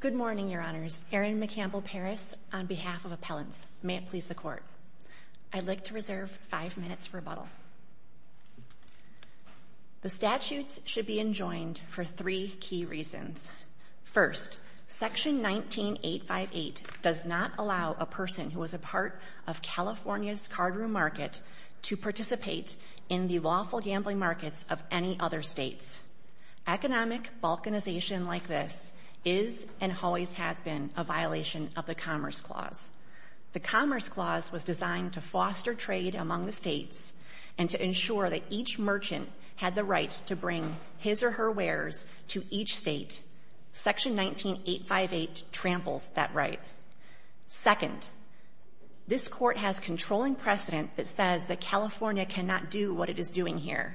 Good morning, Your Honors. Erin McCampbell Parris on behalf of Appellants. May it please the Court. I'd like to reserve five minutes for rebuttal. The statutes should be enjoined for three key reasons. First, Section 19858 does not allow a person who is a part of California's cardroom market to participate in the lawful economic balkanization like this is and always has been a violation of the Commerce Clause. The Commerce Clause was designed to foster trade among the states and to ensure that each merchant had the right to bring his or her wares to each state. Section 19858 tramples that right. Second, this Court has controlling precedent that says that California cannot do what it is doing here.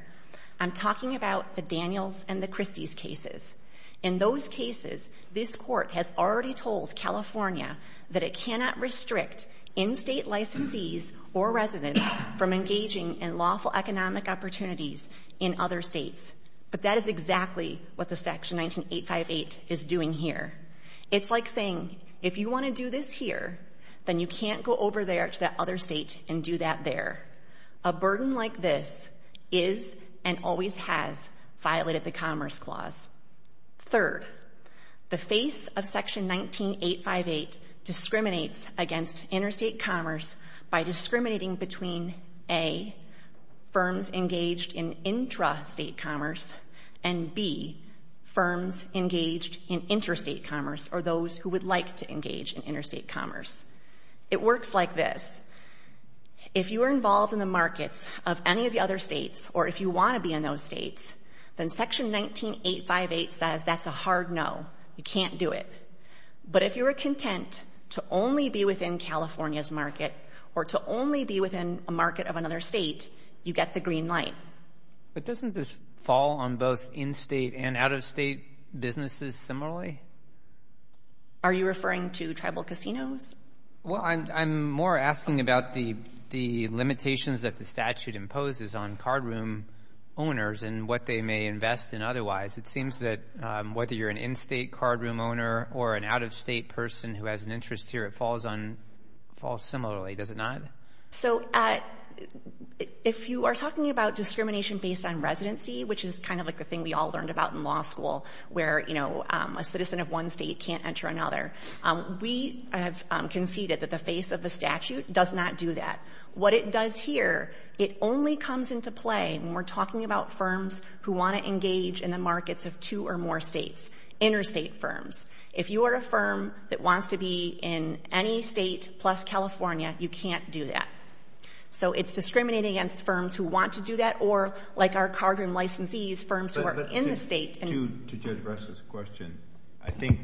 I'm talking about the Daniels and the Christies cases. In those cases, this Court has already told California that it cannot restrict in-state licensees or residents from engaging in lawful economic opportunities in other states. But that is exactly what the Section 19858 is doing here. It's like saying, if you want to do this here, then you can't go over there to that other state and do that there. A burden like this is and always has violated the Commerce Clause. Third, the face of Section 19858 discriminates against interstate commerce by discriminating between, A, firms engaged in intrastate commerce and, B, firms engaged in interstate commerce or those who would like to engage in interstate commerce. It works like this. If you are involved in the markets of any of the other states or if you want to be in those states, then Section 19858 says that's a hard no. You can't do it. But if you are content to only be within California's market or to only be within a market of another state, you get the green light. But doesn't this fall on both in-state and out-of-state businesses similarly? Are you referring to tribal casinos? Well, I'm more asking about the limitations that the statute imposes on cardroom owners and what they may invest in otherwise. It seems that whether you're an in-state cardroom owner or an out-of-state person who has an interest here, it falls similarly. Does it not? So, if you are talking about discrimination based on residency, which is kind of like the thing we all learned about in law school where, you know, a citizen of one state can't enter another, we have conceded that the face of the statute does not do that. What it does here, it only comes into play when we're talking about firms who want to engage in the markets of two or more states, interstate firms. If you are a firm that wants to be in any state plus California, you can't do that. So, it's discriminating against firms who want to do that or, like our cardroom licensees, firms who are in the state. To Judge Bress's question, I think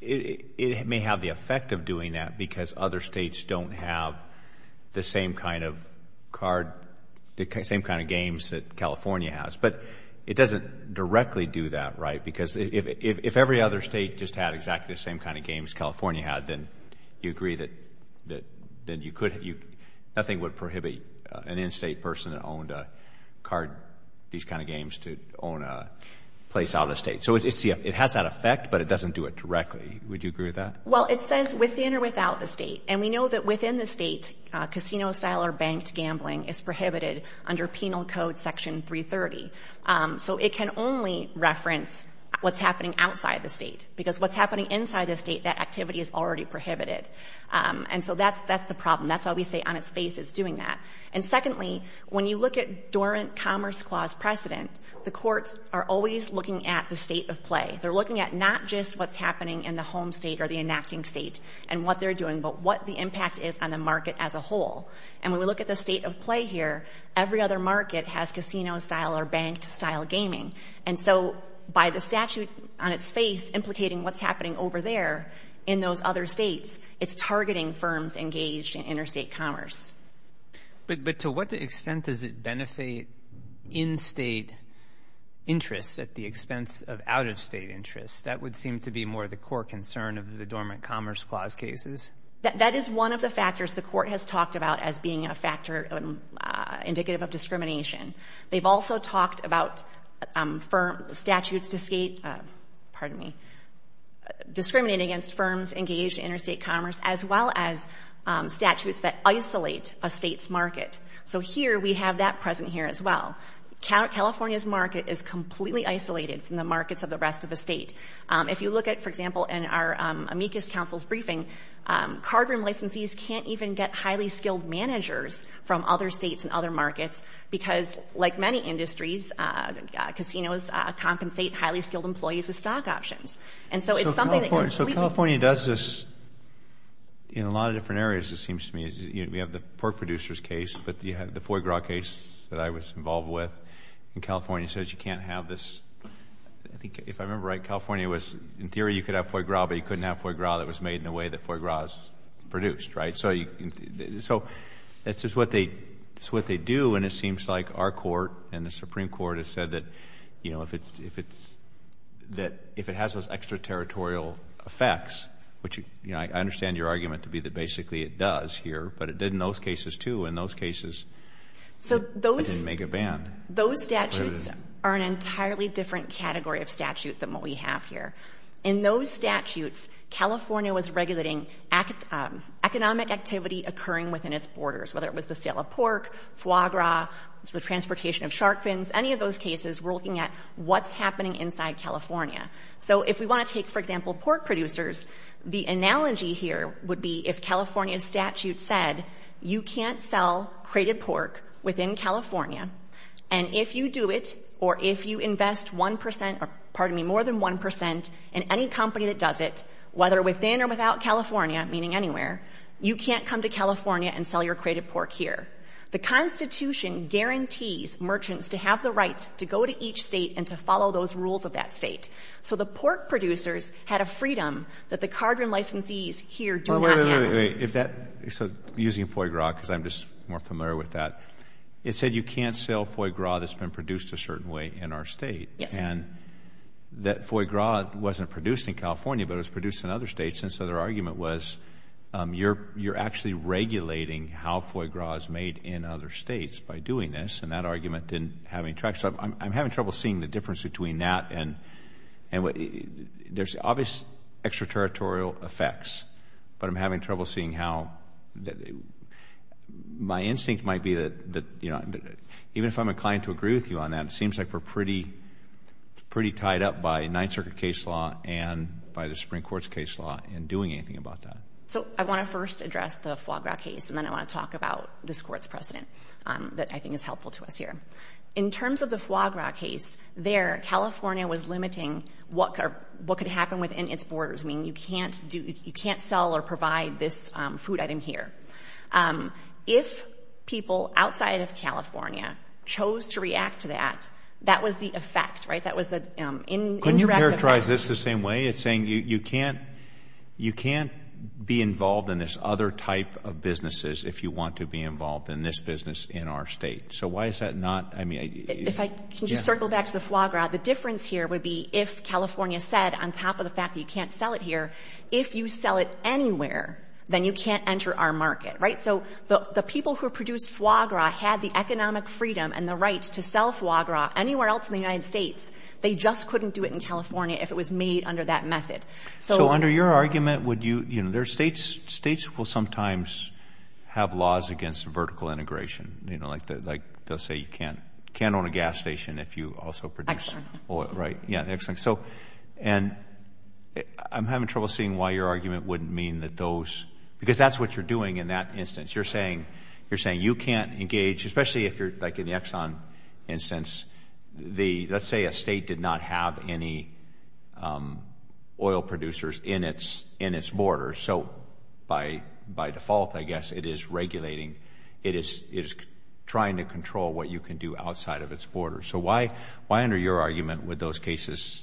it may have the effect of doing that because other states don't have the same kind of card, the same kind of games that California has. But it doesn't directly do that, right? Because if every other state just had exactly the same kind of games California had, then you agree that you could, nothing would prohibit an in-state person that owned a card, these kind of games, to own a place out of the state. So, it has that effect, but it doesn't do it directly. Would you agree with that? Well, it says within or without the state. And we know that within the state, casino-style or banked gambling is prohibited under Penal Code Section 330. So, it can only reference what's happening outside the state. Because what's happening inside the state, that activity is already prohibited. And so, that's the problem. That's why we say on its face it's doing that. And secondly, when you look at dormant commerce clause precedent, the courts are always looking at the state of play. They're looking at not just what's happening in the home state or the enacting state and what they're doing, but what the impact is on the market as a whole. And when we look at the state of play here, every other market has casino-style or banked-style gaming. And so, by the statute on its face implicating what's happening over there in those other states, it's targeting firms engaged in interstate commerce. But to what extent does it benefit in-state interests at the expense of out-of-state interests? That would seem to be more the core concern of the dormant commerce clause cases. That is one of the factors the court has talked about as being a factor indicative of discrimination. They've also talked about statutes discriminating against firms engaged in interstate commerce as well as statutes that isolate a state's market. So here we have that present here as well. California's market is completely isolated from the markets of the rest of the state. If you look at, for example, in our amicus counsel's briefing, cardroom licensees can't even get highly skilled managers from other states and other markets because, like many industries, casinos compensate highly skilled employees with stock options. And so it's something that completely California does this in a lot of different areas, it seems to me. We have the pork producers case, but you have the foie gras case that I was involved with, and California says you can't have this. I think, if I remember right, California was, in theory, you could have foie gras, but you couldn't have foie gras that was made in the way that foie gras is produced, right? So that's just what they do, and it seems like our court and the Supreme Court have said that, you know, if it has those extraterritorial effects, which, you know, I understand your argument to be that basically it does here, but it did in those cases, too. In those cases it didn't make a ban. Those statutes are an entirely different category of statute than what we have here. In those statutes, California was regulating economic activity occurring within its borders, whether it was the sale of pork, foie gras, transportation of shark fins, any of those cases we're looking at what's happening inside California. So if we want to take, for example, pork producers, the analogy here would be if California's statute said you can't sell crated pork within California, and if you do it, or if you invest 1 percent, or pardon me, more than 1 percent in any company that does it, whether within or without California, meaning anywhere, you can't come to California and sell your crated pork here. The Constitution guarantees merchants to have the right to go to each state and to follow those rules of that state. So the pork producers had a freedom that the cardroom licensees here do not have. Wait, wait, wait. So using foie gras, because I'm just more familiar with that, it said you can't sell foie gras that's been produced a certain way in our state. Yes. And that foie gras wasn't produced in California, but it was produced in other states, and so their argument was you're actually regulating how foie gras is made in other states by doing this. And that argument didn't have any traction. So I'm having trouble seeing the difference between that and there's obvious extraterritorial effects, but I'm having trouble seeing how my instinct might be that even if I'm inclined to agree with you on that, it seems like we're pretty tied up by Ninth Circuit case law and by the Supreme Court's case law in doing anything about that. So I want to first address the foie gras case, and then I want to talk about this Court's precedent that I think is helpful to us here. In terms of the foie gras case, there, California was limiting what could happen within its borders. I mean, you can't do, you can't sell or provide this food item here. If people outside of California chose to react to that, that was the effect, right? That was the indirect effect. I would characterize this the same way. It's saying you can't, you can't be involved in this other type of businesses if you want to be involved in this business in our state. So why is that not, I mean, if I can just circle back to the foie gras, the difference here would be if California said, on top of the fact that you can't sell it here, if you sell it anywhere, then you can't enter our market, right? So the people who produced foie gras had the economic freedom and the right to sell foie gras anywhere else in the state if it was made under that method. So under your argument, would you, you know, there are states, states will sometimes have laws against vertical integration, you know, like they'll say you can't own a gas station if you also produce oil, right? Yeah, excellent. So, and I'm having trouble seeing why your argument wouldn't mean that those, because that's what you're doing in that instance. You're saying, you're saying you can't engage, especially if you're like in the Exxon instance, the, let's say a state did not have any oil producers in its, in its borders. So by, by default, I guess it is regulating, it is, it is trying to control what you can do outside of its borders. So why, why under your argument would those cases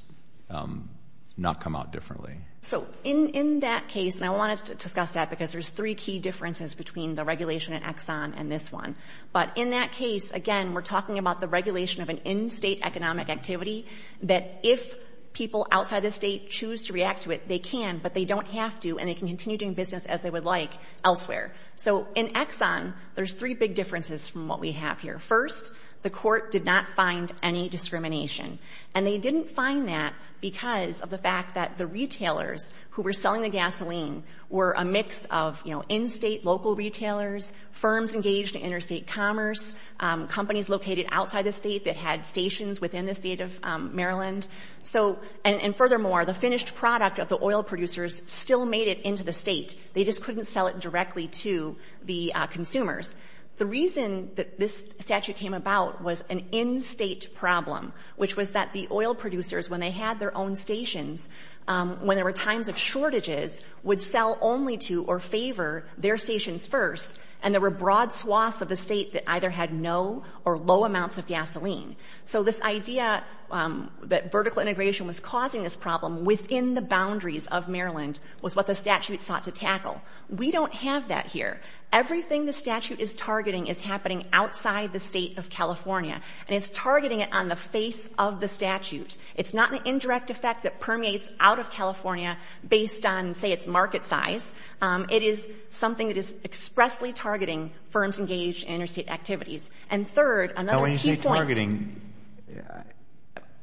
not come out differently? So in, in that case, and I wanted to discuss that because there's three key differences between the regulation in Exxon and this one. But in that case, again, we're talking about the regulation of an in-state economic activity that if people outside the state choose to react to it, they can, but they don't have to, and they can continue doing business as they would like elsewhere. So in Exxon, there's three big differences from what we have here. First, the court did not find any discrimination. And they didn't find that because of the fact that the retailers who were selling the gasoline were a mix of, you know, in-state local retailers, firms engaged in interstate commerce, companies located outside the state that had stations within the state of Maryland. So, and furthermore, the finished product of the oil producers still made it into the state. They just couldn't sell it directly to the consumers. The reason that this statute came about was an in-state problem, which was that the oil producers, when they had their own stations, when there were times of shortages, would sell only to or favor their stations first, and there were broad swaths of the state that either had no or low amounts of gasoline. So this idea that vertical integration was causing this problem within the boundaries of Maryland was what the statute sought to tackle. We don't have that here. Everything the statute is targeting is happening outside the state of California, and it's targeting it on the face of the statute. It's not an indirect effect that permeates out of California based on, say, its market size. It is something that is expressly targeting firms engaged in interstate activities. And third, another key point. Now, when you say targeting,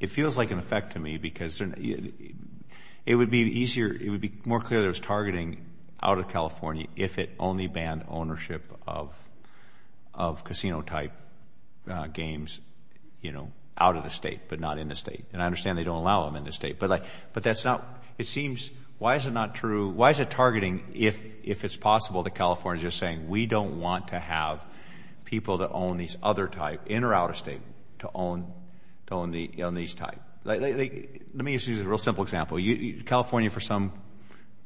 it feels like an effect to me because it would be easier it would be more clear that it was targeting out of California if it only banned ownership of casino-type games, you know, out of the state, but not in the state. And I understand they don't allow them in the state, but that's not, it seems, why is it not true, why is it targeting if it's possible that California is just saying, we don't want to have people that own these other type, in or out of state, to own these type? Let me just use a real simple example. California, for some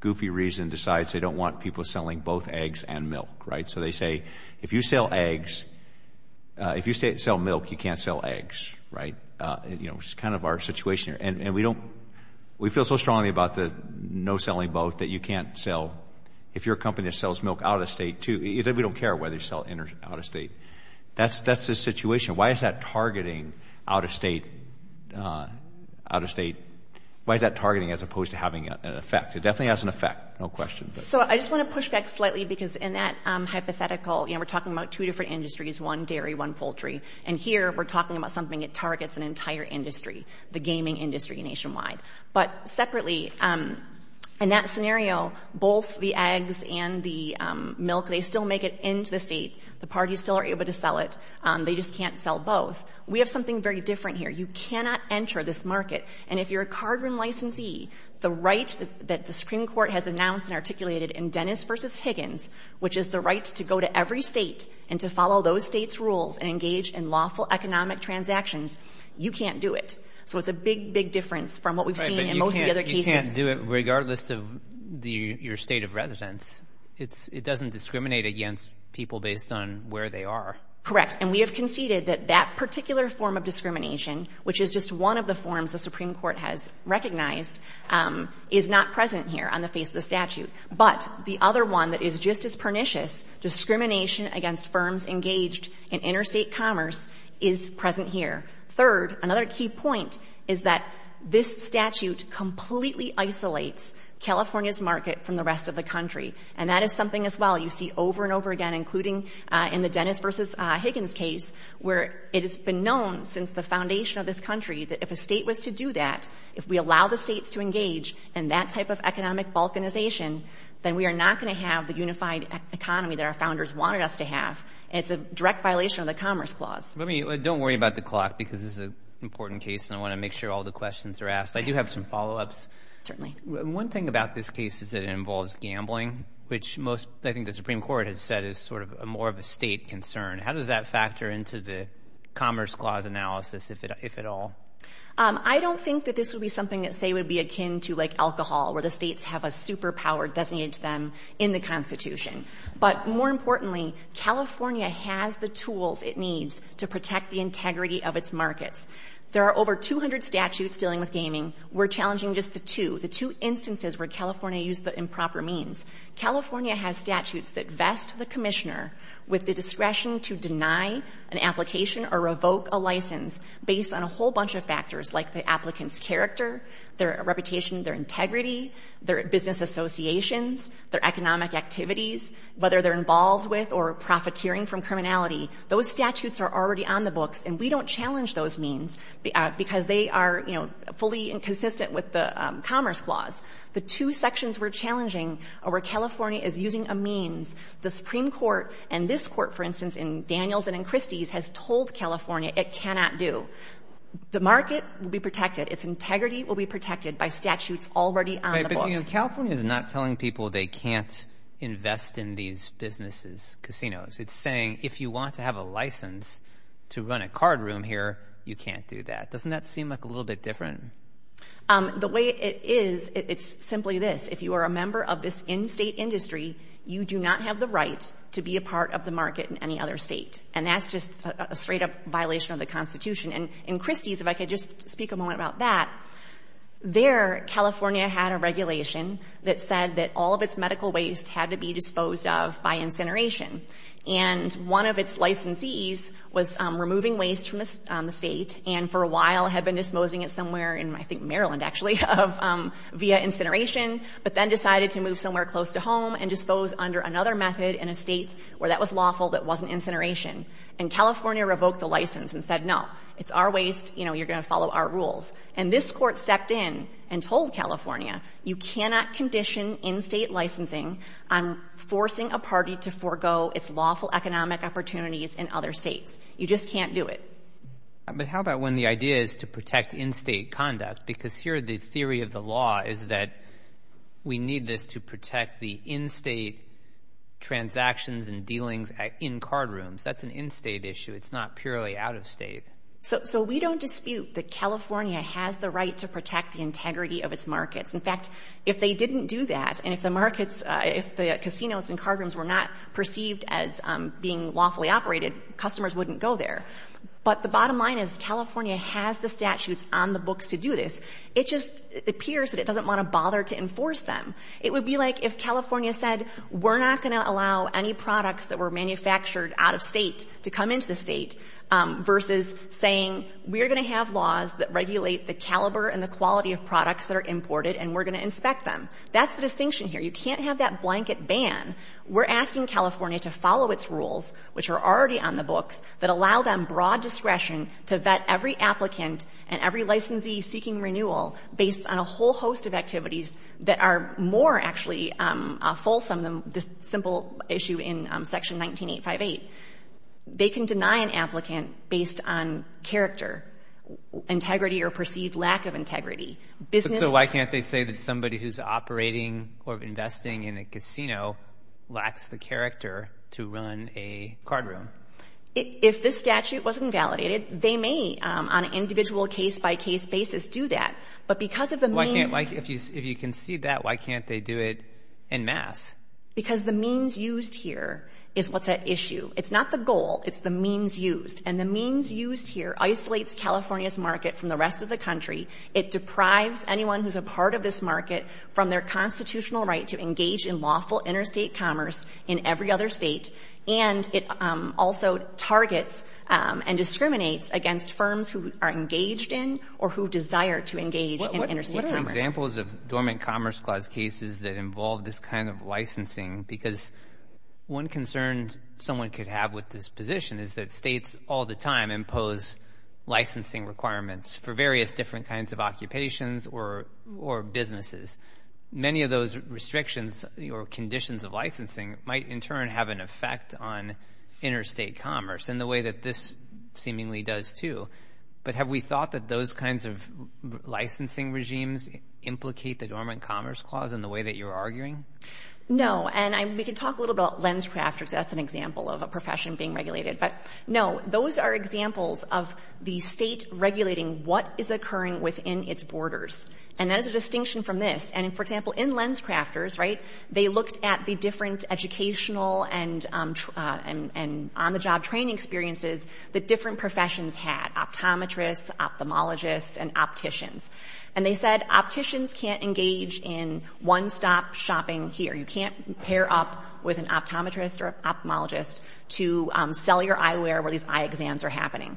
goofy reason, decides they don't want people selling both eggs and milk, right? So they say, if you sell eggs, if you sell milk, you can't sell eggs, right? You know, it's kind of our situation here. And we don't, we feel so strongly about the no selling both that you can't sell, if you're a company that sells milk out of state, too, we don't care whether you sell in or out of state. That's the situation. Why is that targeting out of state, out of state, why is that targeting as opposed to having an effect? It definitely has an effect, no question. So I just want to push back slightly because in that hypothetical, you know, we're talking about two different industries, one dairy, one poultry, and here we're talking about something that targets an entire industry, the gaming industry nationwide. But separately, in that scenario, both the eggs and the milk, they still make it into the state, the parties still are able to sell it, they just can't sell both. We have something very different here. You cannot enter this market. And if you're a cardroom licensee, the right that the Supreme Court has announced and articulated in Dennis v. Higgins, which is the right to go to every state and to follow those states' rules and engage in lawful economic transactions, you can't do it. So it's a big, big difference from what we've seen in most of the other cases. Right, but you can't do it regardless of your state of residence. It doesn't discriminate against people based on where they are. Correct. And we have conceded that that particular form of discrimination, which is just one of the forms the Supreme Court has recognized, is not present here on the face of the statute. But the other one that is just as pernicious, discrimination against firms engaged in interstate commerce, is present here. Third, another key point is that this statute completely isolates California's market from the rest of the country. And that is something, as well, you see over and over again, including in the Dennis v. Higgins case, where it has been known since the foundation of this country that if a state was to do that, if we allow the states to engage in that type of economic balkanization, then we are not going to have the unified economy that our founders wanted us to have. And it's a direct violation of the Commerce Clause. Don't worry about the clock, because this is an important case, and I want to make sure all the questions are asked. I do have some follow-ups. One thing about this case is that it involves gambling, which most, I think the Supreme Court has said, is sort of more of a state concern. How does that factor into the Commerce Clause analysis, if at all? I don't think that this would be something that, say, would be akin to, like, alcohol, where the states have a superpower designated to them in the Constitution. But more importantly, California has the tools it needs to protect the integrity of its markets. There are over 200 statutes dealing with gaming. We're challenging just the two, the two instances where California used the improper means. California has statutes that vest the commissioner with the discretion to deny an application or revoke a license based on a whole bunch of factors, like the applicant's character, their reputation, their integrity, their business associations, their economic activities, whether they're involved with or profiteering from criminality. Those statutes are already on the books, and we don't challenge those means because they are, you know, fully inconsistent with the Commerce Clause. The two sections we're challenging are where California is using a means. The Supreme Court and this Court, for instance, in Daniels and in Christie's, has told California it cannot do. The market will be protected. Its integrity will be protected by statutes already on the But California is not telling people they can't invest in these businesses, casinos. It's saying, if you want to have a license to run a card room here, you can't do that. Doesn't that seem like a little bit different? The way it is, it's simply this. If you are a member of this in-state industry, you do not have the right to be a part of the market in any other state. And that's just a straight-up violation of the Constitution. And in Christie's, if I could just speak a moment about that, there, California had a regulation that said that all of its medical waste had to be disposed of by incineration. And one of its licensees was removing waste from the state and for a while had been disposing it somewhere in, I think, Maryland, actually, via incineration, but then decided to move somewhere close to home and dispose under another method in a state where that was lawful that wasn't incineration. And California revoked the license and said, no, it's our waste, you know, you're going to follow our rules. And this court stepped in and told California, you cannot condition in-state licensing on forcing a party to forego its lawful economic opportunities in other states. You just can't do it. But how about when the idea is to protect in-state conduct? Because here, the theory of the law is that we need this to protect the in-state transactions and dealings in cardrooms. That's an in-state issue. It's not purely out-of-state. So we don't dispute that California has the right to protect the integrity of its markets. In fact, if they didn't do that, and if the markets, if the casinos and cardrooms were not perceived as being lawfully operated, customers wouldn't go there. But the bottom to enforce them. It would be like if California said we're not going to allow any products that were manufactured out-of-state to come into the State, versus saying we're going to have laws that regulate the caliber and the quality of products that are imported and we're going to inspect them. That's the distinction here. You can't have that blanket ban. We're asking California to follow its rules, which are already on the books, that allow them broad discretion to vet every applicant and every licensee seeking renewal based on a whole host of activities that are more actually fulsome than this simple issue in Section 19858. They can deny an applicant based on character, integrity, or perceived lack of integrity. So why can't they say that somebody who's operating or investing in a casino lacks the character to run a cardroom? If this statute wasn't validated, they may on an individual case-by-case basis do that. But because of the means If you can see that, why can't they do it en masse? Because the means used here is what's at issue. It's not the goal. It's the means used. And the means used here isolates California's market from the rest of the country. It deprives anyone who's a part of this market from their constitutional right to engage in lawful interstate commerce in every other state. And it also targets and discriminates against firms who are engaged in or who desire to engage in interstate commerce. What are examples of Dormant Commerce Clause cases that involve this kind of licensing? Because one concern someone could have with this position is that states all the time impose licensing requirements for various different kinds of occupations or businesses. Many of those restrictions or conditions of licensing might in turn have an effect on interstate commerce in the way that this seemingly does too. But have we thought that those kinds of licensing regimes implicate the Dormant Commerce Clause in the way that you're arguing? No. And we can talk a little about LensCrafters. That's an example of a profession being regulated. But no, those are examples of the state regulating what is occurring within its borders. And that is a distinction from this. And for example, in LensCrafters, right, they looked at the different educational and on-the-job training experiences that different professions had, optometrists, ophthalmologists, and opticians. And they said opticians can't engage in one-stop shopping here. You can't pair up with an optometrist or ophthalmologist to sell your eyewear where these eye exams are happening.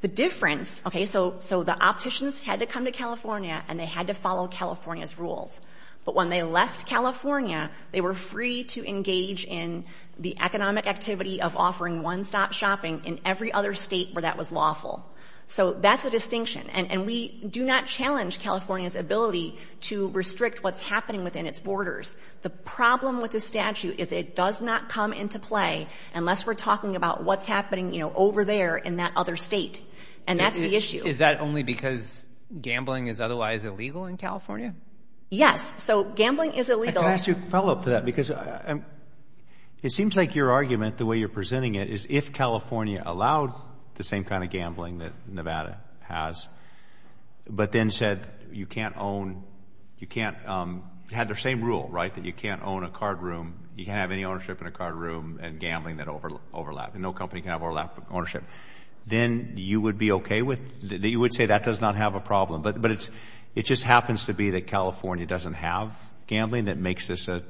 The difference, okay, so the opticians had to come to California and they had to follow California's rules. But when they left California, they were free to engage in the economic activity of offering one-stop shopping in every other state where that was lawful. So that's a distinction. And we do not challenge California's ability to restrict what's happening within its borders. The problem with this statute is it does not come into play unless we're talking about what's you know, over there in that other state. And that's the issue. Is that only because gambling is otherwise illegal in California? Yes. So gambling is illegal. Can I ask you a follow-up to that? Because it seems like your argument, the way you're presenting it, is if California allowed the same kind of gambling that Nevada has but then said you can't own, you can't, had their same rule, right, that you can't own a card room, you can't have any ownership in a card room and gambling that overlap, no company can overlap ownership, then you would be okay with, you would say that does not have a problem. But it's, it just happens to be that California doesn't have gambling that makes this a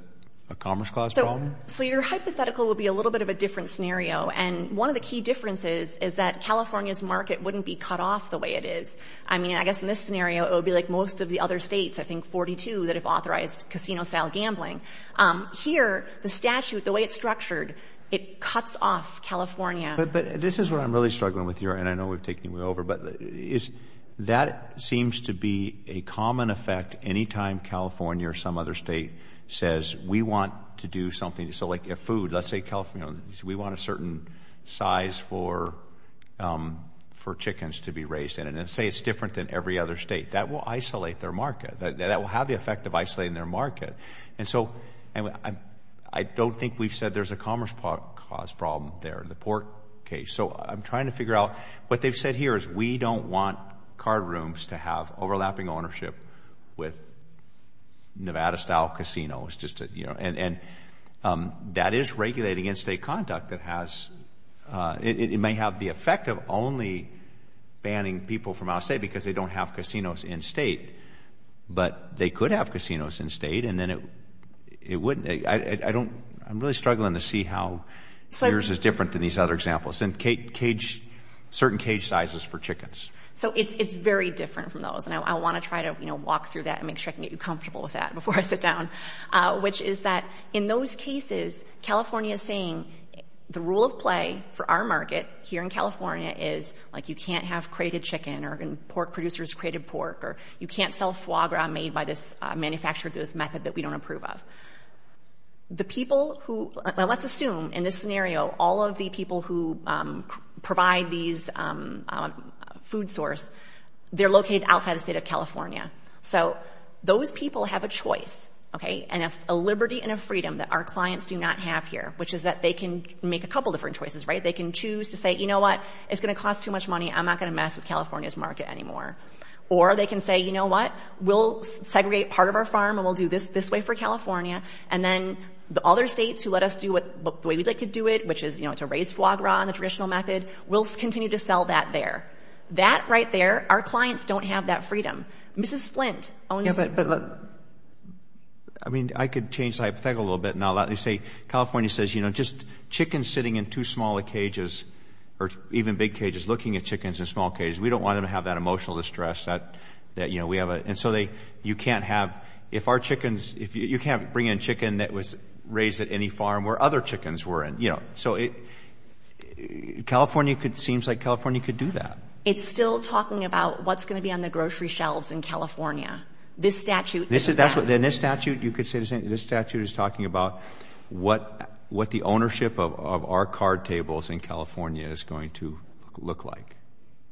commerce clause problem? So your hypothetical would be a little bit of a different scenario. And one of the key differences is that California's market wouldn't be cut off the way it is. I mean, I guess in this scenario, it would be like most of the other states, I think 42 that have authorized casino-style gambling. Here, the statute, the way it's structured, it cuts off California. But this is where I'm really struggling with your, and I know we've taken you over, but that seems to be a common effect any time California or some other state says we want to do something. So like if food, let's say California, we want a certain size for chickens to be raised in. And let's say it's different than every other state. That will isolate their market. That will have the effect of isolating their market. And so, I don't think we've said there's a commerce clause problem there in the pork case. So I'm trying to figure out, what they've said here is we don't want card rooms to have overlapping ownership with Nevada-style casinos. And that is regulating in-state conduct that has, it may have the effect of only banning people from out of state because they don't have casinos in-state. But they could have casinos in-state, and then it wouldn't, I don't, I'm really struggling to see how yours is different than these other examples. And cage, certain cage sizes for chickens. So it's very different from those. And I want to try to, you know, walk through that and make sure I can get you comfortable with that before I sit down, which is that in those cases, California is saying the rule of play for our market here is you can't have crated chicken or pork producers crated pork, or you can't sell foie gras made by this manufacturer through this method that we don't approve of. The people who, let's assume in this scenario, all of the people who provide these food source, they're located outside the state of California. So those people have a choice, okay? And if a liberty and a freedom that our clients do not have here, which is that they can make a couple different choices, right? They can choose to say, you know what, it's going to cost too much money. I'm not going to mess with California's market anymore. Or they can say, you know what, we'll segregate part of our farm and we'll do this this way for California. And then the other states who let us do what the way we'd like to do it, which is, you know, to raise foie gras on the traditional method, we'll continue to sell that there. That right there, our clients don't have that freedom. Mrs. Flint. I mean, I could change, I think a little bit now that they say California says, just chickens sitting in two smaller cages or even big cages, looking at chickens in small cages. We don't want them to have that emotional distress that we have. And so you can't have, if our chickens, if you can't bring in chicken that was raised at any farm where other chickens were in. So California could, seems like California could do that. It's still talking about what's going to be on the grocery shelves in California. This statute. Then this statute, you could say this statute is talking about what the ownership of our card tables in California is going to look like.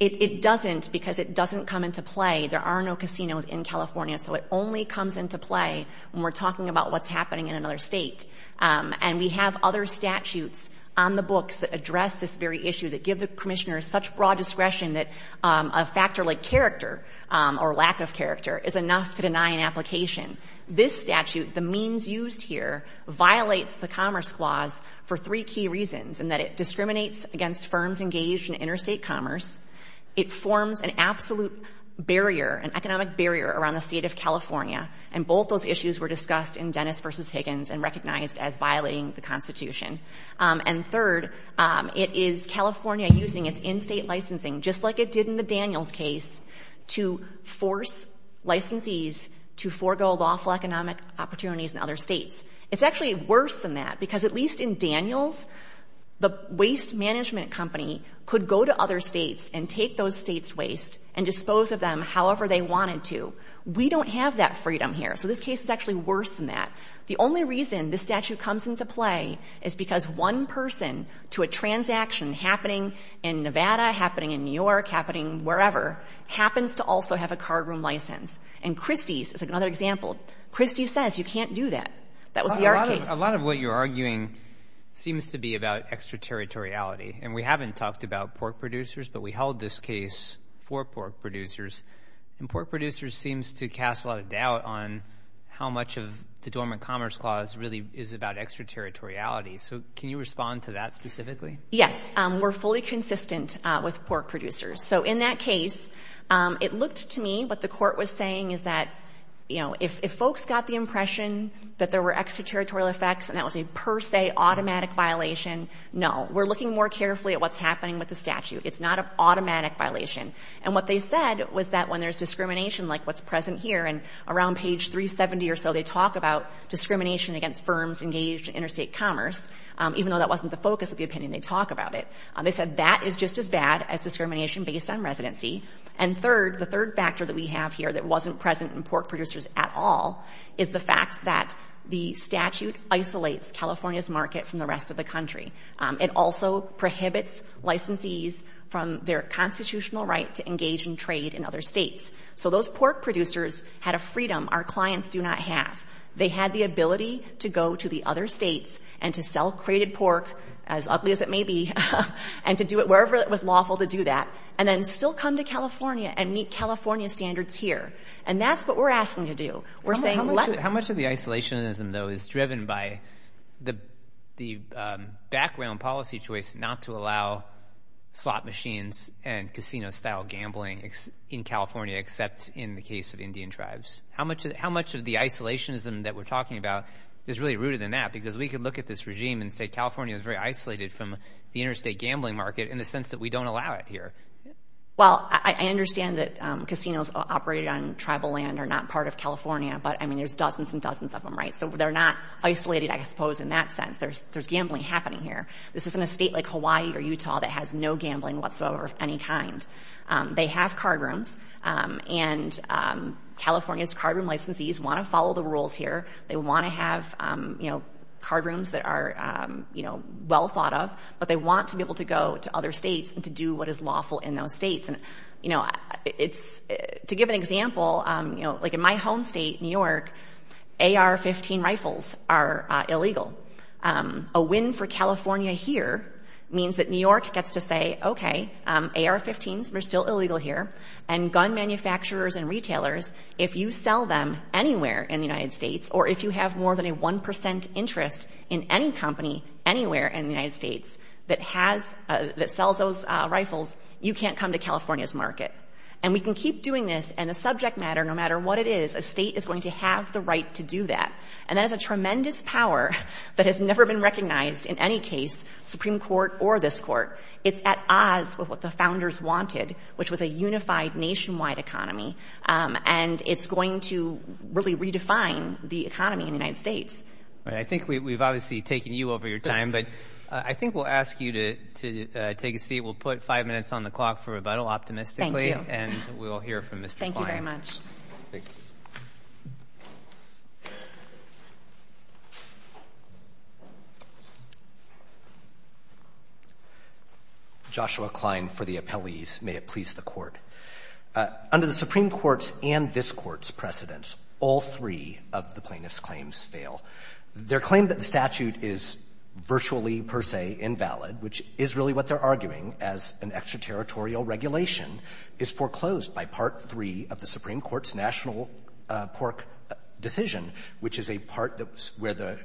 It doesn't because it doesn't come into play. There are no casinos in California. So it only comes into play when we're talking about what's happening in another state. And we have other statutes on the books that address this very issue that give the commissioner such broad discretion that a factor like character or lack of character is enough to deny an application. This statute, the means used here, violates the Commerce Clause for three key reasons, in that it discriminates against firms engaged in interstate commerce. It forms an absolute barrier, an economic barrier around the State of California. And both those issues were discussed in Dennis v. Higgins and recognized as violating the Constitution. And third, it is California using its in-State licensing, just like it did in the Daniels case, to force licensees to forego lawful economic opportunities in other states. It's actually worse than that, because at least in Daniels, the waste management company could go to other states and take those states' waste and dispose of them however they wanted to. We don't have that freedom here. So this case is actually worse than that. The only reason this statute comes into play is because one person to a property that's happening wherever happens to also have a cardroom license. And Christie's is another example. Christie's says you can't do that. That was the art case. A lot of what you're arguing seems to be about extraterritoriality. And we haven't talked about pork producers, but we held this case for pork producers. And pork producers seems to cast a lot of doubt on how much of the Dormant Commerce Clause really is about extraterritoriality. So can you respond to that specifically? Yes. We're fully consistent with pork producers. So in that case, it looked to me, what the court was saying is that, you know, if folks got the impression that there were extraterritorial effects and that was a per se automatic violation, no. We're looking more carefully at what's happening with the statute. It's not an automatic violation. And what they said was that when there's discrimination like what's present here, and around page 370 or so, they talk about discrimination against firms engaged in interstate commerce, even though that wasn't the focus of the opinion, they talk about it. They said that is just as bad as discrimination based on residency. And third, the third factor that we have here that wasn't present in pork producers at all is the fact that the statute isolates California's market from the rest of the country. It also prohibits licensees from their constitutional right to engage in trade in other states. So those pork producers had a freedom our clients do not have. They had the ability to go to the other states and to sell crated pork, as ugly as it may be, and to do it wherever it was lawful to do that, and then still come to California and meet California standards here. And that's what we're asking to do. We're saying, how much of the isolationism, though, is driven by the the background policy choice not to allow slot machines and casino style gambling in California, except in the case of Indian is really rooted in that, because we could look at this regime and say California is very isolated from the interstate gambling market in the sense that we don't allow it here. Well, I understand that casinos operated on tribal land are not part of California, but I mean, there's dozens and dozens of them, right? So they're not isolated. I suppose in that sense, there's there's gambling happening here. This isn't a state like Hawaii or Utah that has no gambling whatsoever of any kind. They have card rooms and California's card room licensees want to follow the rules here. They want to have, you know, card rooms that are, you know, well thought of, but they want to be able to go to other states and to do what is lawful in those states. And, you know, it's to give an example, you know, like in my home state, New York, AR-15 rifles are illegal. A win for California here means that New York gets to say, OK, AR-15s are still illegal here. And gun manufacturers and retailers, if you sell them anywhere in the United States or if you have more than a one percent interest in any company anywhere in the United States that has that sells those rifles, you can't come to California's market. And we can keep doing this. And the subject matter, no matter what it is, a state is going to have the right to do that. And that is a tremendous power that has never been recognized in any case, Supreme Court or this court. It's at odds with what the founders wanted, which was a unified nationwide economy. And it's going to really redefine the economy in the United States. All right. I think we've obviously taken you over your time, but I think we'll ask you to take a seat. We'll put five minutes on the clock for rebuttal, optimistically. And we'll hear from Mr. Klein. Thank you very much. Joshua Klein for the appellees. May it please the court. Under the Supreme Court's and this court's precedents, all three of the plaintiff's claims fail. Their claim that the statute is virtually per se invalid, which is really what they're arguing as an extraterritorial regulation, is foreclosed by Part III of the Supreme Court's national PORC decision, which is a part that's where the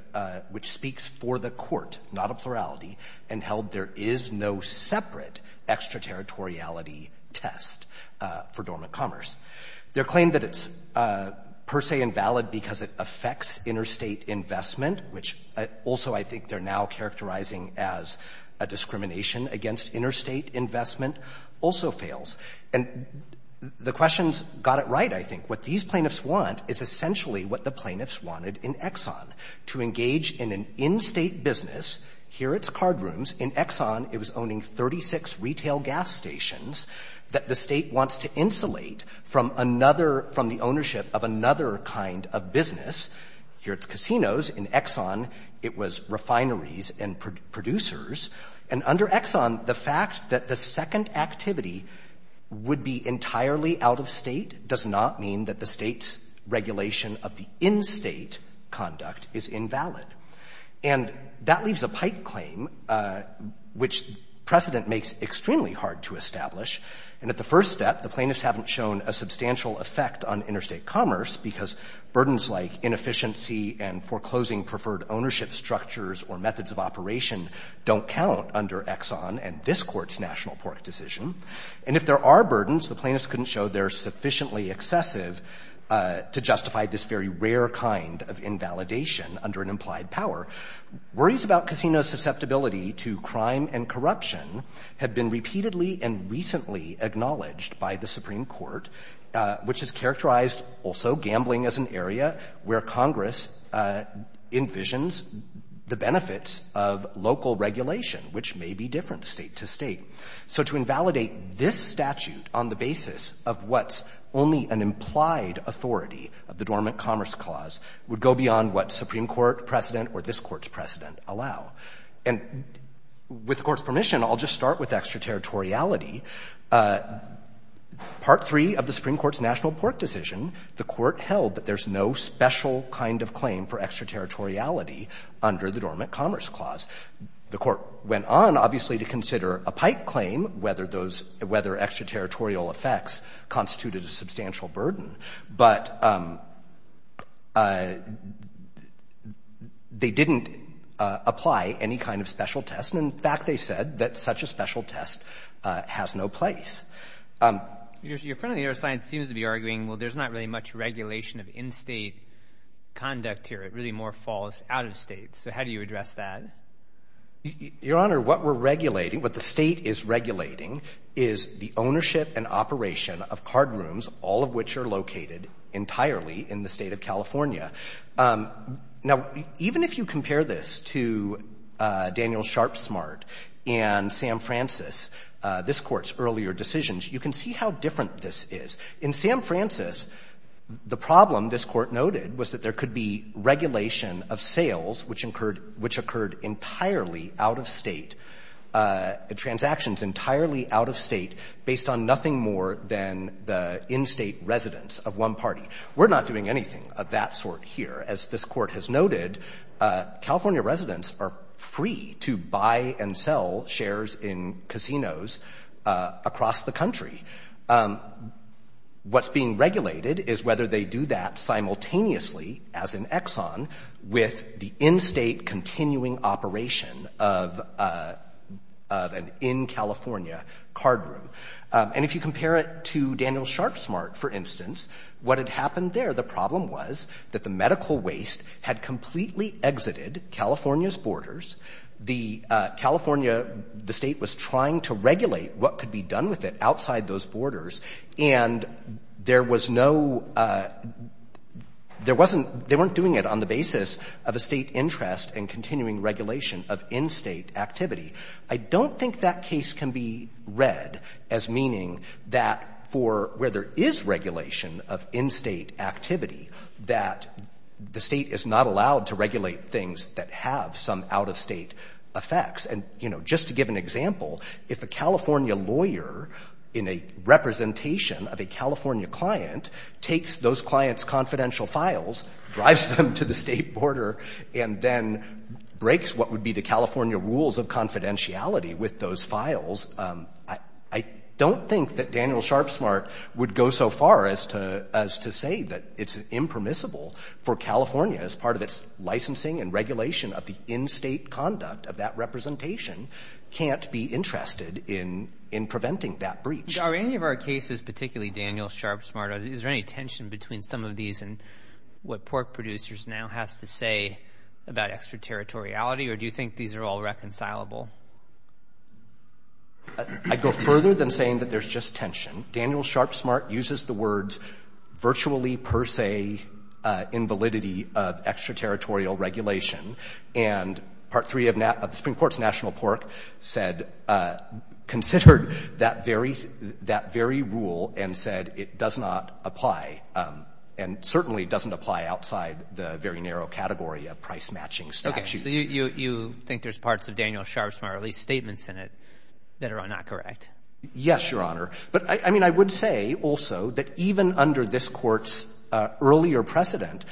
— which speaks for the court, not a plurality, and held there is no separate extraterritoriality test for dormant commerce. Their claim that it's per se invalid because it affects interstate investment, which also I think they're now characterizing as a discrimination against interstate investment, also fails. And the questions got it right, I think. What these plaintiffs want is essentially what the plaintiffs wanted in Exxon, to engage in an in-State business. Here it's card rooms. In Exxon, it was owning 36 retail gas stations that the State wants to insulate from another — from the ownership of another kind of business. Here at the casinos, in Exxon, it was refineries and producers. And under Exxon, the fact that the second activity would be entirely out of State does not mean that the State's regulation of the in-State conduct is invalid. And that leaves a pike claim, which precedent makes extremely hard to establish. And at the first step, the plaintiffs haven't shown a substantial effect on interstate commerce because burdens like inefficiency and foreclosing preferred ownership structures or methods of operation don't count under Exxon and this Court's National Pork decision. And if there are burdens, the plaintiffs couldn't show they're sufficiently excessive to justify this very rare kind of invalidation under an implied power. Worries about casinos' susceptibility to crime and corruption have been repeatedly and recently acknowledged by the Supreme Court, which has characterized also gambling as an area where Congress envisions the benefits of local regulation, which may be different state to state. So to invalidate this statute on the basis of what's only an implied authority of the Dormant Commerce Clause would go beyond what Supreme Court precedent or this Court's precedent allow. And with the Court's permission, I'll just start with extraterritoriality. Part III of the Supreme Court's National Pork decision, the Court held that there's no special kind of claim for extraterritoriality under the Dormant Commerce Clause. The Court went on, obviously, to consider a pike claim, whether those — whether extraterritorial effects constituted a substantial burden, but they didn't apply any kind of special test. And, in fact, they said that such a special test has no effect or has no place. Your friend on the other side seems to be arguing, well, there's not really much regulation of in-state conduct here. It really more falls out of state. So how do you address that? Your Honor, what we're regulating, what the state is regulating, is the ownership and operation of card rooms, all of which are located entirely in the state of California. Now, even if you compare this to Daniel Sharpsmart and Sam Francis, this Court's early earlier decisions, you can see how different this is. In Sam Francis, the problem this Court noted was that there could be regulation of sales which occurred entirely out of state, transactions entirely out of state, based on nothing more than the in-state residence of one party. We're not doing anything of that sort here. As this Court has noted, California residents are free to buy and sell shares in casinos across the country. What's being regulated is whether they do that simultaneously, as in Exxon, with the in-state continuing operation of an in-California card room. And if you compare it to Daniel Sharpsmart, for instance, what had happened there, the problem was that the medical waste had completely exited California's borders. The California, the state was trying to regulate what could be done with it outside those borders, and there was no — there wasn't — they weren't doing it on the basis of a state interest in continuing regulation of in-state activity. I don't think that case can be read as meaning that for where there is regulation of in-state activity, that the state is not allowed to regulate things that have some out-of-state effects. And, you know, just to give an example, if a California lawyer in a representation of a California client takes those clients' confidential files, drives them to the state border, and then breaks what would be the California rules of confidentiality with those files, I don't think that Daniel Sharpsmart would go so far as to say that it's impermissible for California, as part of its licensing and regulation of the in-state conduct of that representation, can't be interested in preventing that breach. Are any of our cases, particularly Daniel Sharpsmart, is there any tension between some of these and what Pork Producers now has to say about extraterritoriality, or do you think these are all reconcilable? I'd go further than saying that there's just tension. Daniel Sharpsmart uses the words virtually per se invalidity of extraterritorial regulation. And Part 3 of the Supreme Court's national pork said, considered that very rule and said it does not apply, and certainly doesn't apply outside the very narrow category of price-matching statutes. Okay. So you think there's parts of Daniel Sharpsmart, or at least statements in it, that are not correct? Yes, Your Honor. But I mean, I would say also that even under this Court's earlier precedent,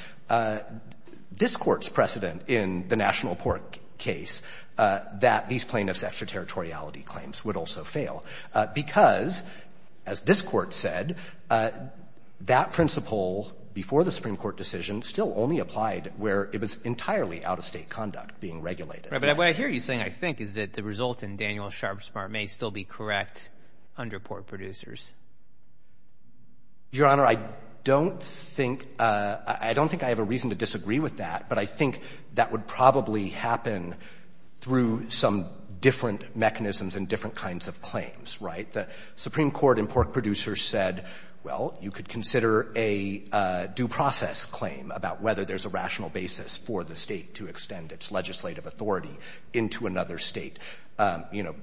this Court's precedent in the national pork case, that these plaintiffs' extraterritoriality claims would also fail, because, as this Court said, that principle before the Supreme Court decision still only applied where it was entirely out-of-state conduct being regulated. Right. But what I hear you saying, I think, is that the result in Daniel Sharpsmart may still be correct under pork producers. Your Honor, I don't think I have a reason to disagree with that, but I think that would probably happen through some different mechanisms and different kinds of claims, right? The Supreme Court in pork producers said, well, you could consider a due process claim about whether there's a rational basis for the state to extend its legislative authority into another state. You know,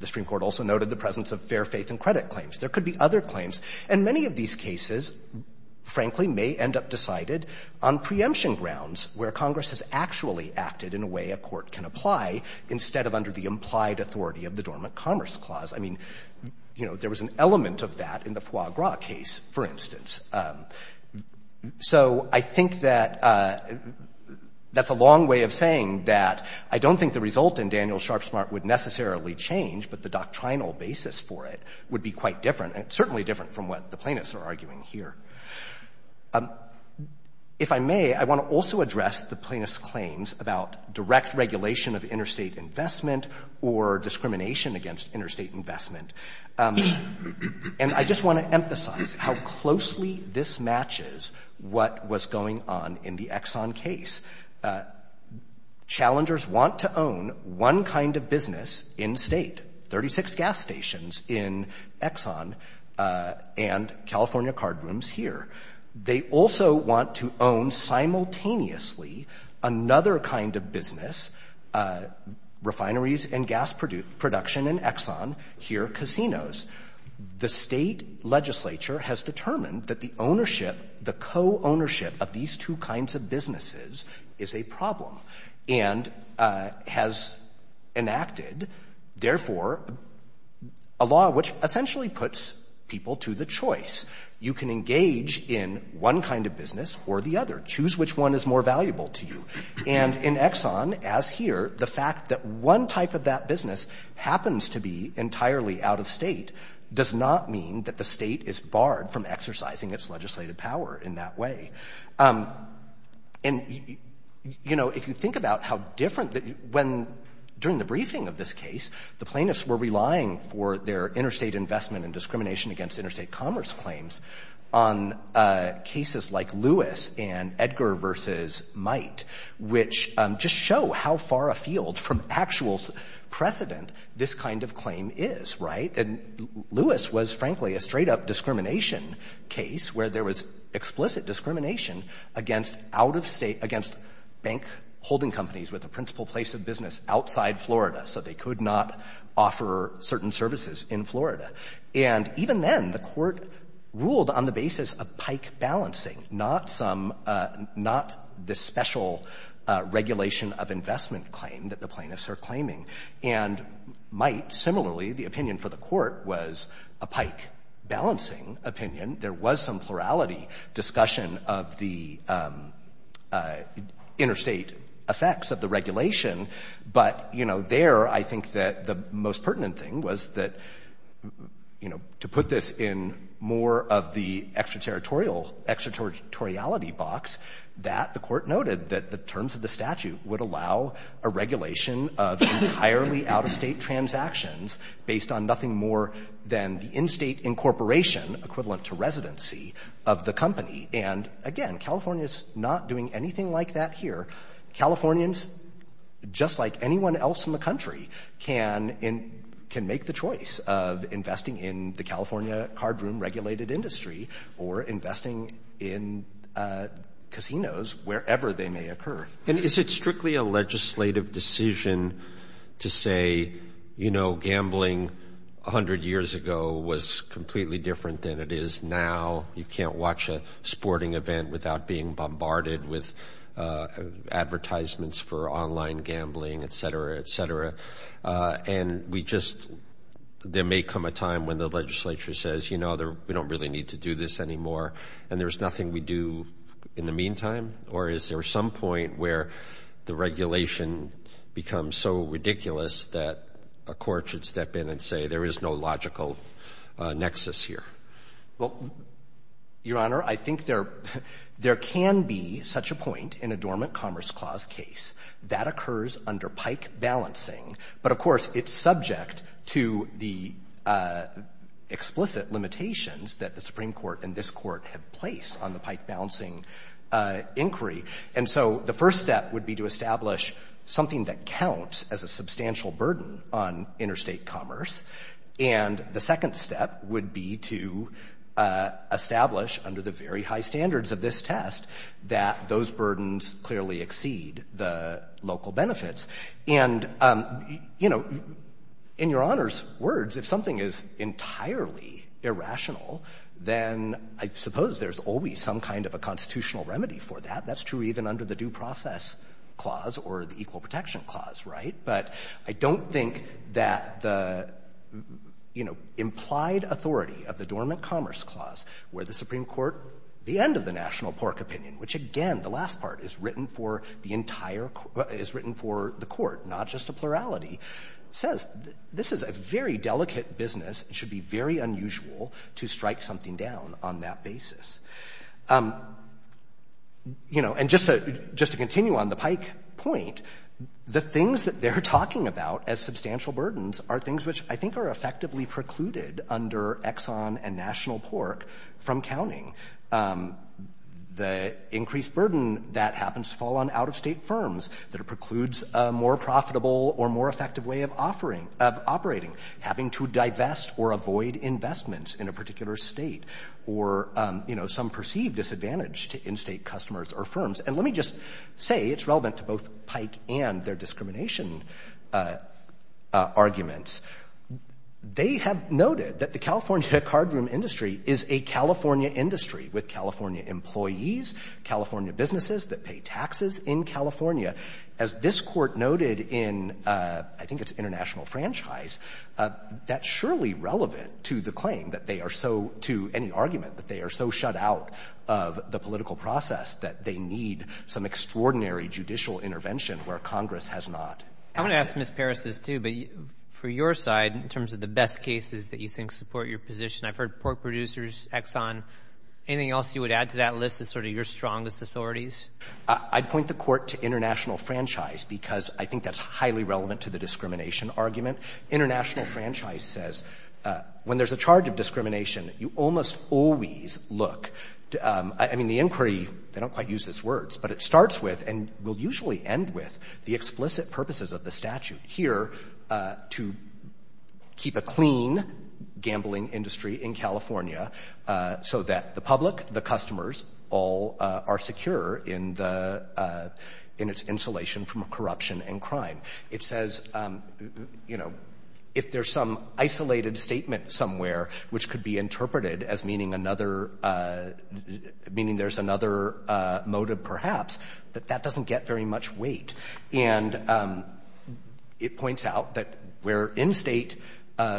the Supreme Court also noted the presence of fair faith and credit claims. There could be other claims. And many of these cases, frankly, may end up decided on preemption grounds where Congress has actually acted in a way a court can apply, instead of under the implied authority of the Dormant Commerce Clause. I mean, you know, there was an element of that in the foie gras case, for instance. So, I think that that's a long way of saying that I don't think the result in Daniel Sharpsmart would necessarily change, but the doctrinal basis for it would be quite different, and certainly different from what the plaintiffs are arguing here. If I may, I want to also address the plaintiffs' claims about direct regulation of interstate investment or discrimination against interstate investment. And I just want to emphasize how closely this matches what was going on in the Exxon case. Challengers want to own one kind of business in-state, 36 gas stations in Exxon and California card rooms here. They also want to own simultaneously another kind of business, refineries and gas production in Exxon, here casinos. The State legislature has determined that the ownership, the co-ownership of these two kinds of businesses is a problem, and has enacted, therefore, a law which essentially puts people to the choice. You can engage in one kind of business or the other, choose which one is more valuable to you. And in Exxon, as here, the fact that one type of business happens to be entirely out-of-state does not mean that the State is barred from exercising its legislative power in that way. And, you know, if you think about how different, when, during the briefing of this case, the plaintiffs were relying for their interstate investment and discrimination against interstate commerce claims on cases like Lewis and Edgar v. Might, which just show how far afield from actual precedent this kind of claim is, right? And Lewis was, frankly, a straight-up discrimination case where there was explicit discrimination against out-of-state, against bank holding companies with a principal place of business outside Florida, so they could not offer certain services in Florida. And even then, the Court ruled on the basis of pike balancing, not some, not the special regulation of investment claim that the plaintiffs are claiming. And Might, similarly, the opinion for the Court was a pike balancing opinion. There was some plurality discussion of the interstate effects of the regulation. But, you know, there, I think that the most pertinent thing was that, you know, to put this in more of the extraterritorial box, that the Court noted that the terms of the statute would allow a regulation of entirely out-of-state transactions based on nothing more than the in-state incorporation, equivalent to residency, of the company. And, again, California's not doing anything like that here. Californians, just like anyone else in the country, can make the choice of investing in the California cardroom-regulated industry or investing in casinos wherever they may occur. And is it strictly a legislative decision to say, you know, gambling 100 years ago was completely different than it is now? You can't watch a sporting event without being bombarded with advertisements for online gambling, et cetera, et cetera. And we just, there may come a time when the legislature says, you know, we don't really need to do this anymore, and there's nothing we do in the meantime? Or is there some point where the regulation becomes so ridiculous that a court should step in and say there is no logical nexus here? Well, Your Honor, I think there can be such a point in a dormant commerce clause case that occurs under pike balancing. But, of course, it's subject to the explicit limitations that the Supreme Court and this Court have placed on the pike balancing inquiry. And so the first step would be to establish something that counts as a substantial burden on interstate commerce. And the second step would be to establish under the very high standards of this test that those burdens clearly exceed the local benefits. And, you know, in Your Honor's words, if something is entirely irrational, then I suppose there's always some kind of a constitutional remedy for that. That's true even under the Due Process Clause or the Equal Protection Clause, right? But I don't think that the, you know, implied authority of the Dormant Commerce Clause where the Supreme Court, the end of the National Pork Opinion, which, again, the last part is written for the entire court, is written for the court, not just a plurality, says this is a very delicate business. It should be very unusual to strike something down on that basis. You know, and just to continue on the pike point, the things that they're talking about as substantial burdens are things which I think are effectively precluded under Exxon and National Pork from counting. The increased burden that happens to fall on out-of-state firms that precludes a more profitable or more effective way of offering — of operating, having to divest or avoid investments in a particular state, or, you know, some perceived disadvantage to in-state customers or firms. And let me just say it's relevant to both Pike and their discrimination arguments. They have noted that the California cardroom industry is a California industry with California employees, California businesses that pay taxes in California. As this Court noted in, I think it's International Franchise, that's surely relevant to the claim that they are so — to any argument that they are so shut out of the political process that they need some extraordinary judicial intervention where Congress has not. I want to ask Ms. Paris this, too, but for your side, in terms of the best cases that you think support your position, I've heard Pork Producers, Exxon. Anything else you would add to that list as sort of your strongest authorities? I'd point the Court to International Franchise because I think that's highly relevant to the discrimination argument. International Franchise says when there's a charge of discrimination, you almost always look — I mean, the inquiry, they don't quite use these words, but it starts with and will usually end with the explicit purposes of the statute here to keep a clean gambling industry in California so that the public, the customers, all are secure in the — in its insulation from corruption and crime. It says, you know, if there's some isolated statement somewhere which could be interpreted as meaning another — meaning there's another motive perhaps, that that doesn't get very much weight. And it points out that where in-state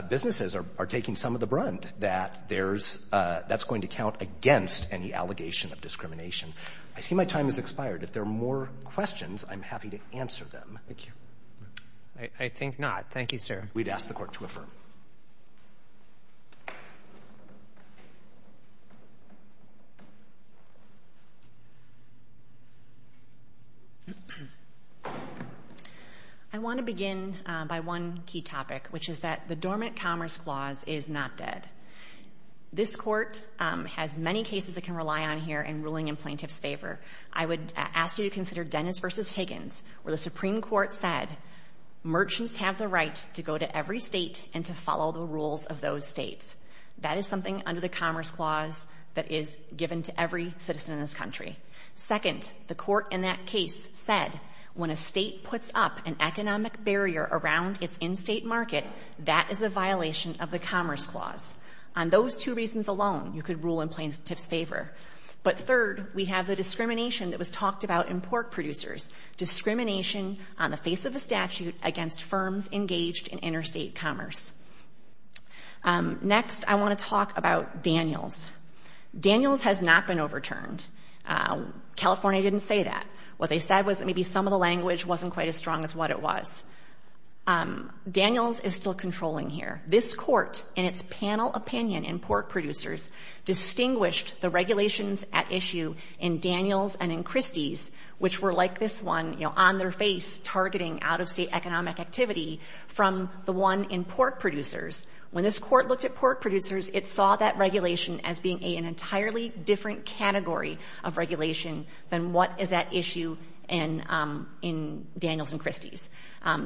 businesses are taking some of the brunt, that there's — that's going to count against any allegation of discrimination. I see my time has expired. If there are more questions, I'm happy to answer them. Thank you. I think not. Thank you, sir. We'd ask the Court to affirm. I want to begin by one key topic, which is that the Dormant Commerce Clause is not dead. This Court has many cases it can rely on here in ruling in plaintiff's favor. I would ask you to consider Dennis v. Higgins, where the Supreme Court said merchants have the right to go to every state and to follow the rules of those states. That is something under the Commerce Clause that is given to every citizen in this country. Second, the Court in that case said when a state puts up an economic barrier around its in-state market, that is a violation of the Commerce Clause. On those two reasons alone, you could rule in plaintiff's favor. But third, we have the discrimination that was talked about in pork producers. Discrimination on the face of a statute against firms engaged in interstate commerce. Next, I want to talk about Daniels. Daniels has not been overturned. California didn't say that. What they said was that maybe some of the language wasn't quite as strong as what it was. Daniels is still controlling here. This Court, in its panel opinion in pork producers, distinguished the regulations at issue in Daniels and in Christie's, which were like this one, you know, on their face targeting out-of-state economic activity, from the one in pork producers. When this Court looked at pork producers, it saw that regulation as being an entirely different category of regulation than what is at issue in Daniels and Christie's.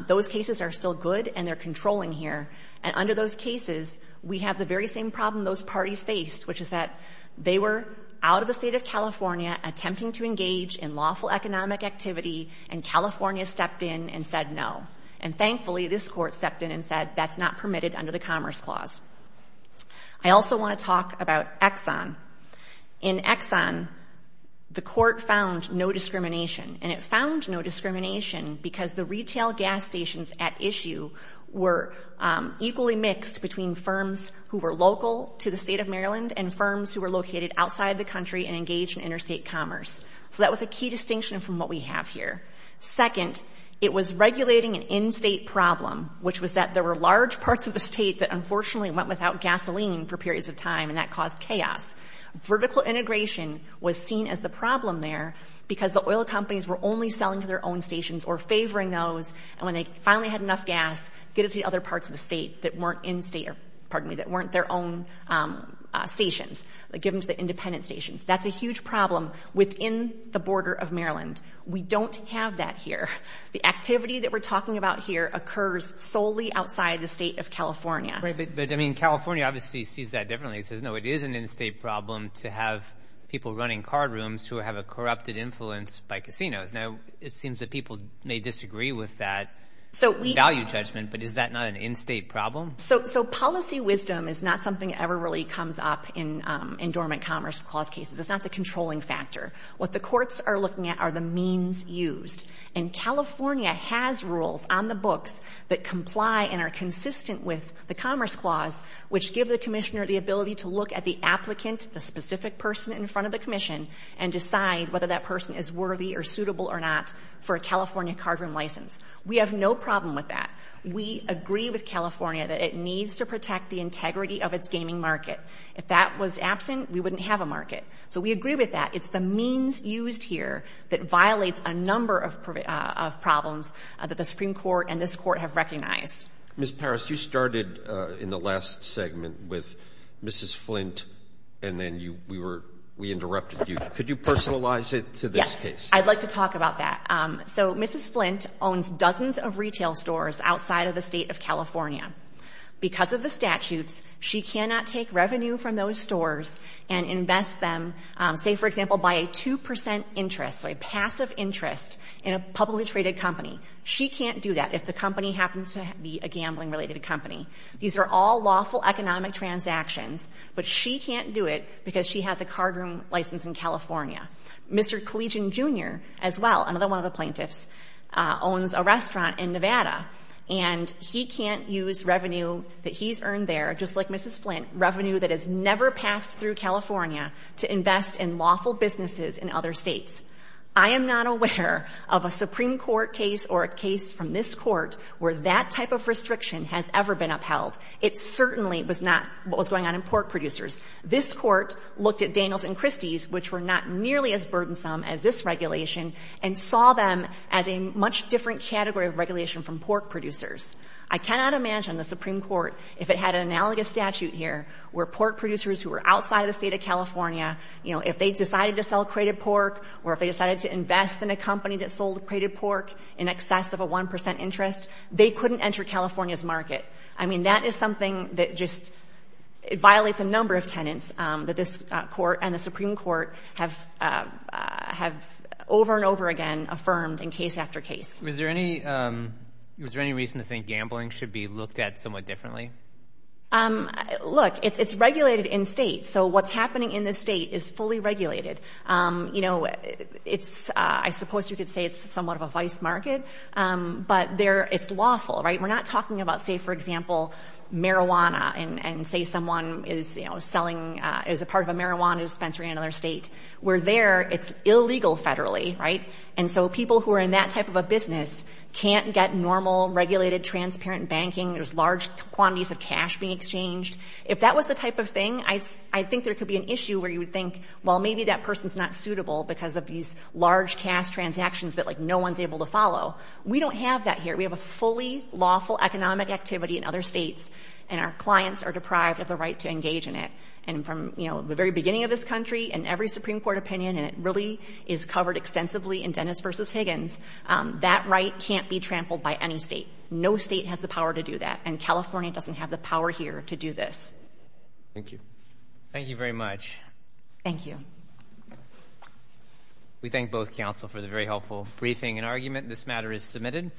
Those cases are still good and they're controlling here. And under those cases, we have the very same problem those parties faced, which is that they were out of the state of California attempting to engage in lawful economic activity and California stepped in and said no. And thankfully, this Court stepped in and said that's not permitted under the Commerce Clause. I also want to talk about Exxon. In Exxon, the Court found no discrimination. And it found no discrimination because the retail gas stations at issue were equally mixed between firms who were local to the state of Maryland and firms who were located outside the country and engaged in interstate commerce. So that was a key distinction from what we have here. Second, it was regulating an in-state problem, which was that there were large parts of the state that unfortunately went without gasoline for periods of time and that caused chaos. Vertical integration was seen as the problem there because the oil companies were only selling to their own stations or favoring those. And when they finally had enough gas, get it to the other parts of the state that weren't in-state or, pardon me, that weren't their own stations. Give them to the independent stations. That's a huge problem within the border of Maryland. We don't have that here. The activity that we're talking about here occurs solely outside the state of California. But, I mean, California obviously sees that differently. It says, no, it is an in-state problem to have people running card rooms who have a corrupted influence by casinos. Now, it seems that people may disagree with that value judgment, but is that not an in-state problem? So policy wisdom is not something that ever really comes up in Dormant Commerce Clause cases. It's not the controlling factor. What the courts are looking at are the means used. And California has rules on the books that comply and are consistent with the Commerce Clause, which give the commissioner the ability to look at the applicant, the specific person in front of the commission, and decide whether that person is worthy or suitable or not for a California card room license. We have no problem with that. We agree with California that it needs to protect the integrity of its gaming market. If that was absent, we wouldn't have a market. So we agree with that. It's the means used here that violates a number of problems that the Supreme Court and this Court have recognized. Mr. Parrish, you started in the last segment with Mrs. Flint, and then we interrupted you. Could you personalize it to this case? Yes. I'd like to talk about that. So Mrs. Flint owns dozens of retail stores outside of the State of California. Because of the statutes, she cannot take revenue from those stores and invest them, say, for example, by a 2 percent interest, a passive interest, in a publicly traded company. She can't do that if the company happens to be a gambling-related company. These are all lawful economic transactions. But she can't do it because she has a card room license in California. Mr. Collegian, Jr., as well, another one of the plaintiffs, owns a restaurant in Nevada. And he can't use revenue that he's earned there, just like Mrs. Flint, revenue that is never passed through California, to invest in lawful businesses in other States. I am not aware of a Supreme Court case or a case from this Court where that type of restriction has ever been upheld. It certainly was not what was going on in pork producers. This Court looked at Daniels and Christie's, which were not nearly as burdensome as this regulation, and saw them as a much different category of regulation from pork producers. I cannot imagine the Supreme Court, if it had an analogous statute here, where pork producers who were outside of the State of California, you know, if they decided to sell crated pork, or if they decided to invest in a company that sold crated pork in excess of a 1 percent interest, they couldn't enter California's I mean, that is something that just, it violates a number of tenets that this Court and the Supreme Court have over and over again affirmed in case after case. Was there any reason to think gambling should be looked at somewhat differently? Look, it's regulated in States. So what's happening in the State is fully regulated. You know, it's, I suppose you could say it's somewhat of a vice market, but there, it's lawful, right? We're not talking about, say, for example, marijuana and say someone is, you know, selling, is a part of a marijuana dispensary in another State. Where there, it's illegal federally, right? And so people who are in that type of a business can't get normal, regulated, transparent banking. There's large quantities of cash being exchanged. If that was the type of thing, I think there could be an issue where you would think, well, maybe that person's not suitable because of these large cash transactions that, like, no one's able to follow. We don't have that here. We have a fully lawful economic activity in other States, and our clients are deprived of the right to engage in it. And from, you know, the very beginning of this country and every Supreme Court opinion, and it really is covered extensively in Dennis v. Higgins, that right can't be trampled by any State. No State has the power to do that. And California doesn't have the power here to do this. Thank you. Thank you very much. Thank you. We thank both counsel for the very helpful briefing and argument. This matter is submitted.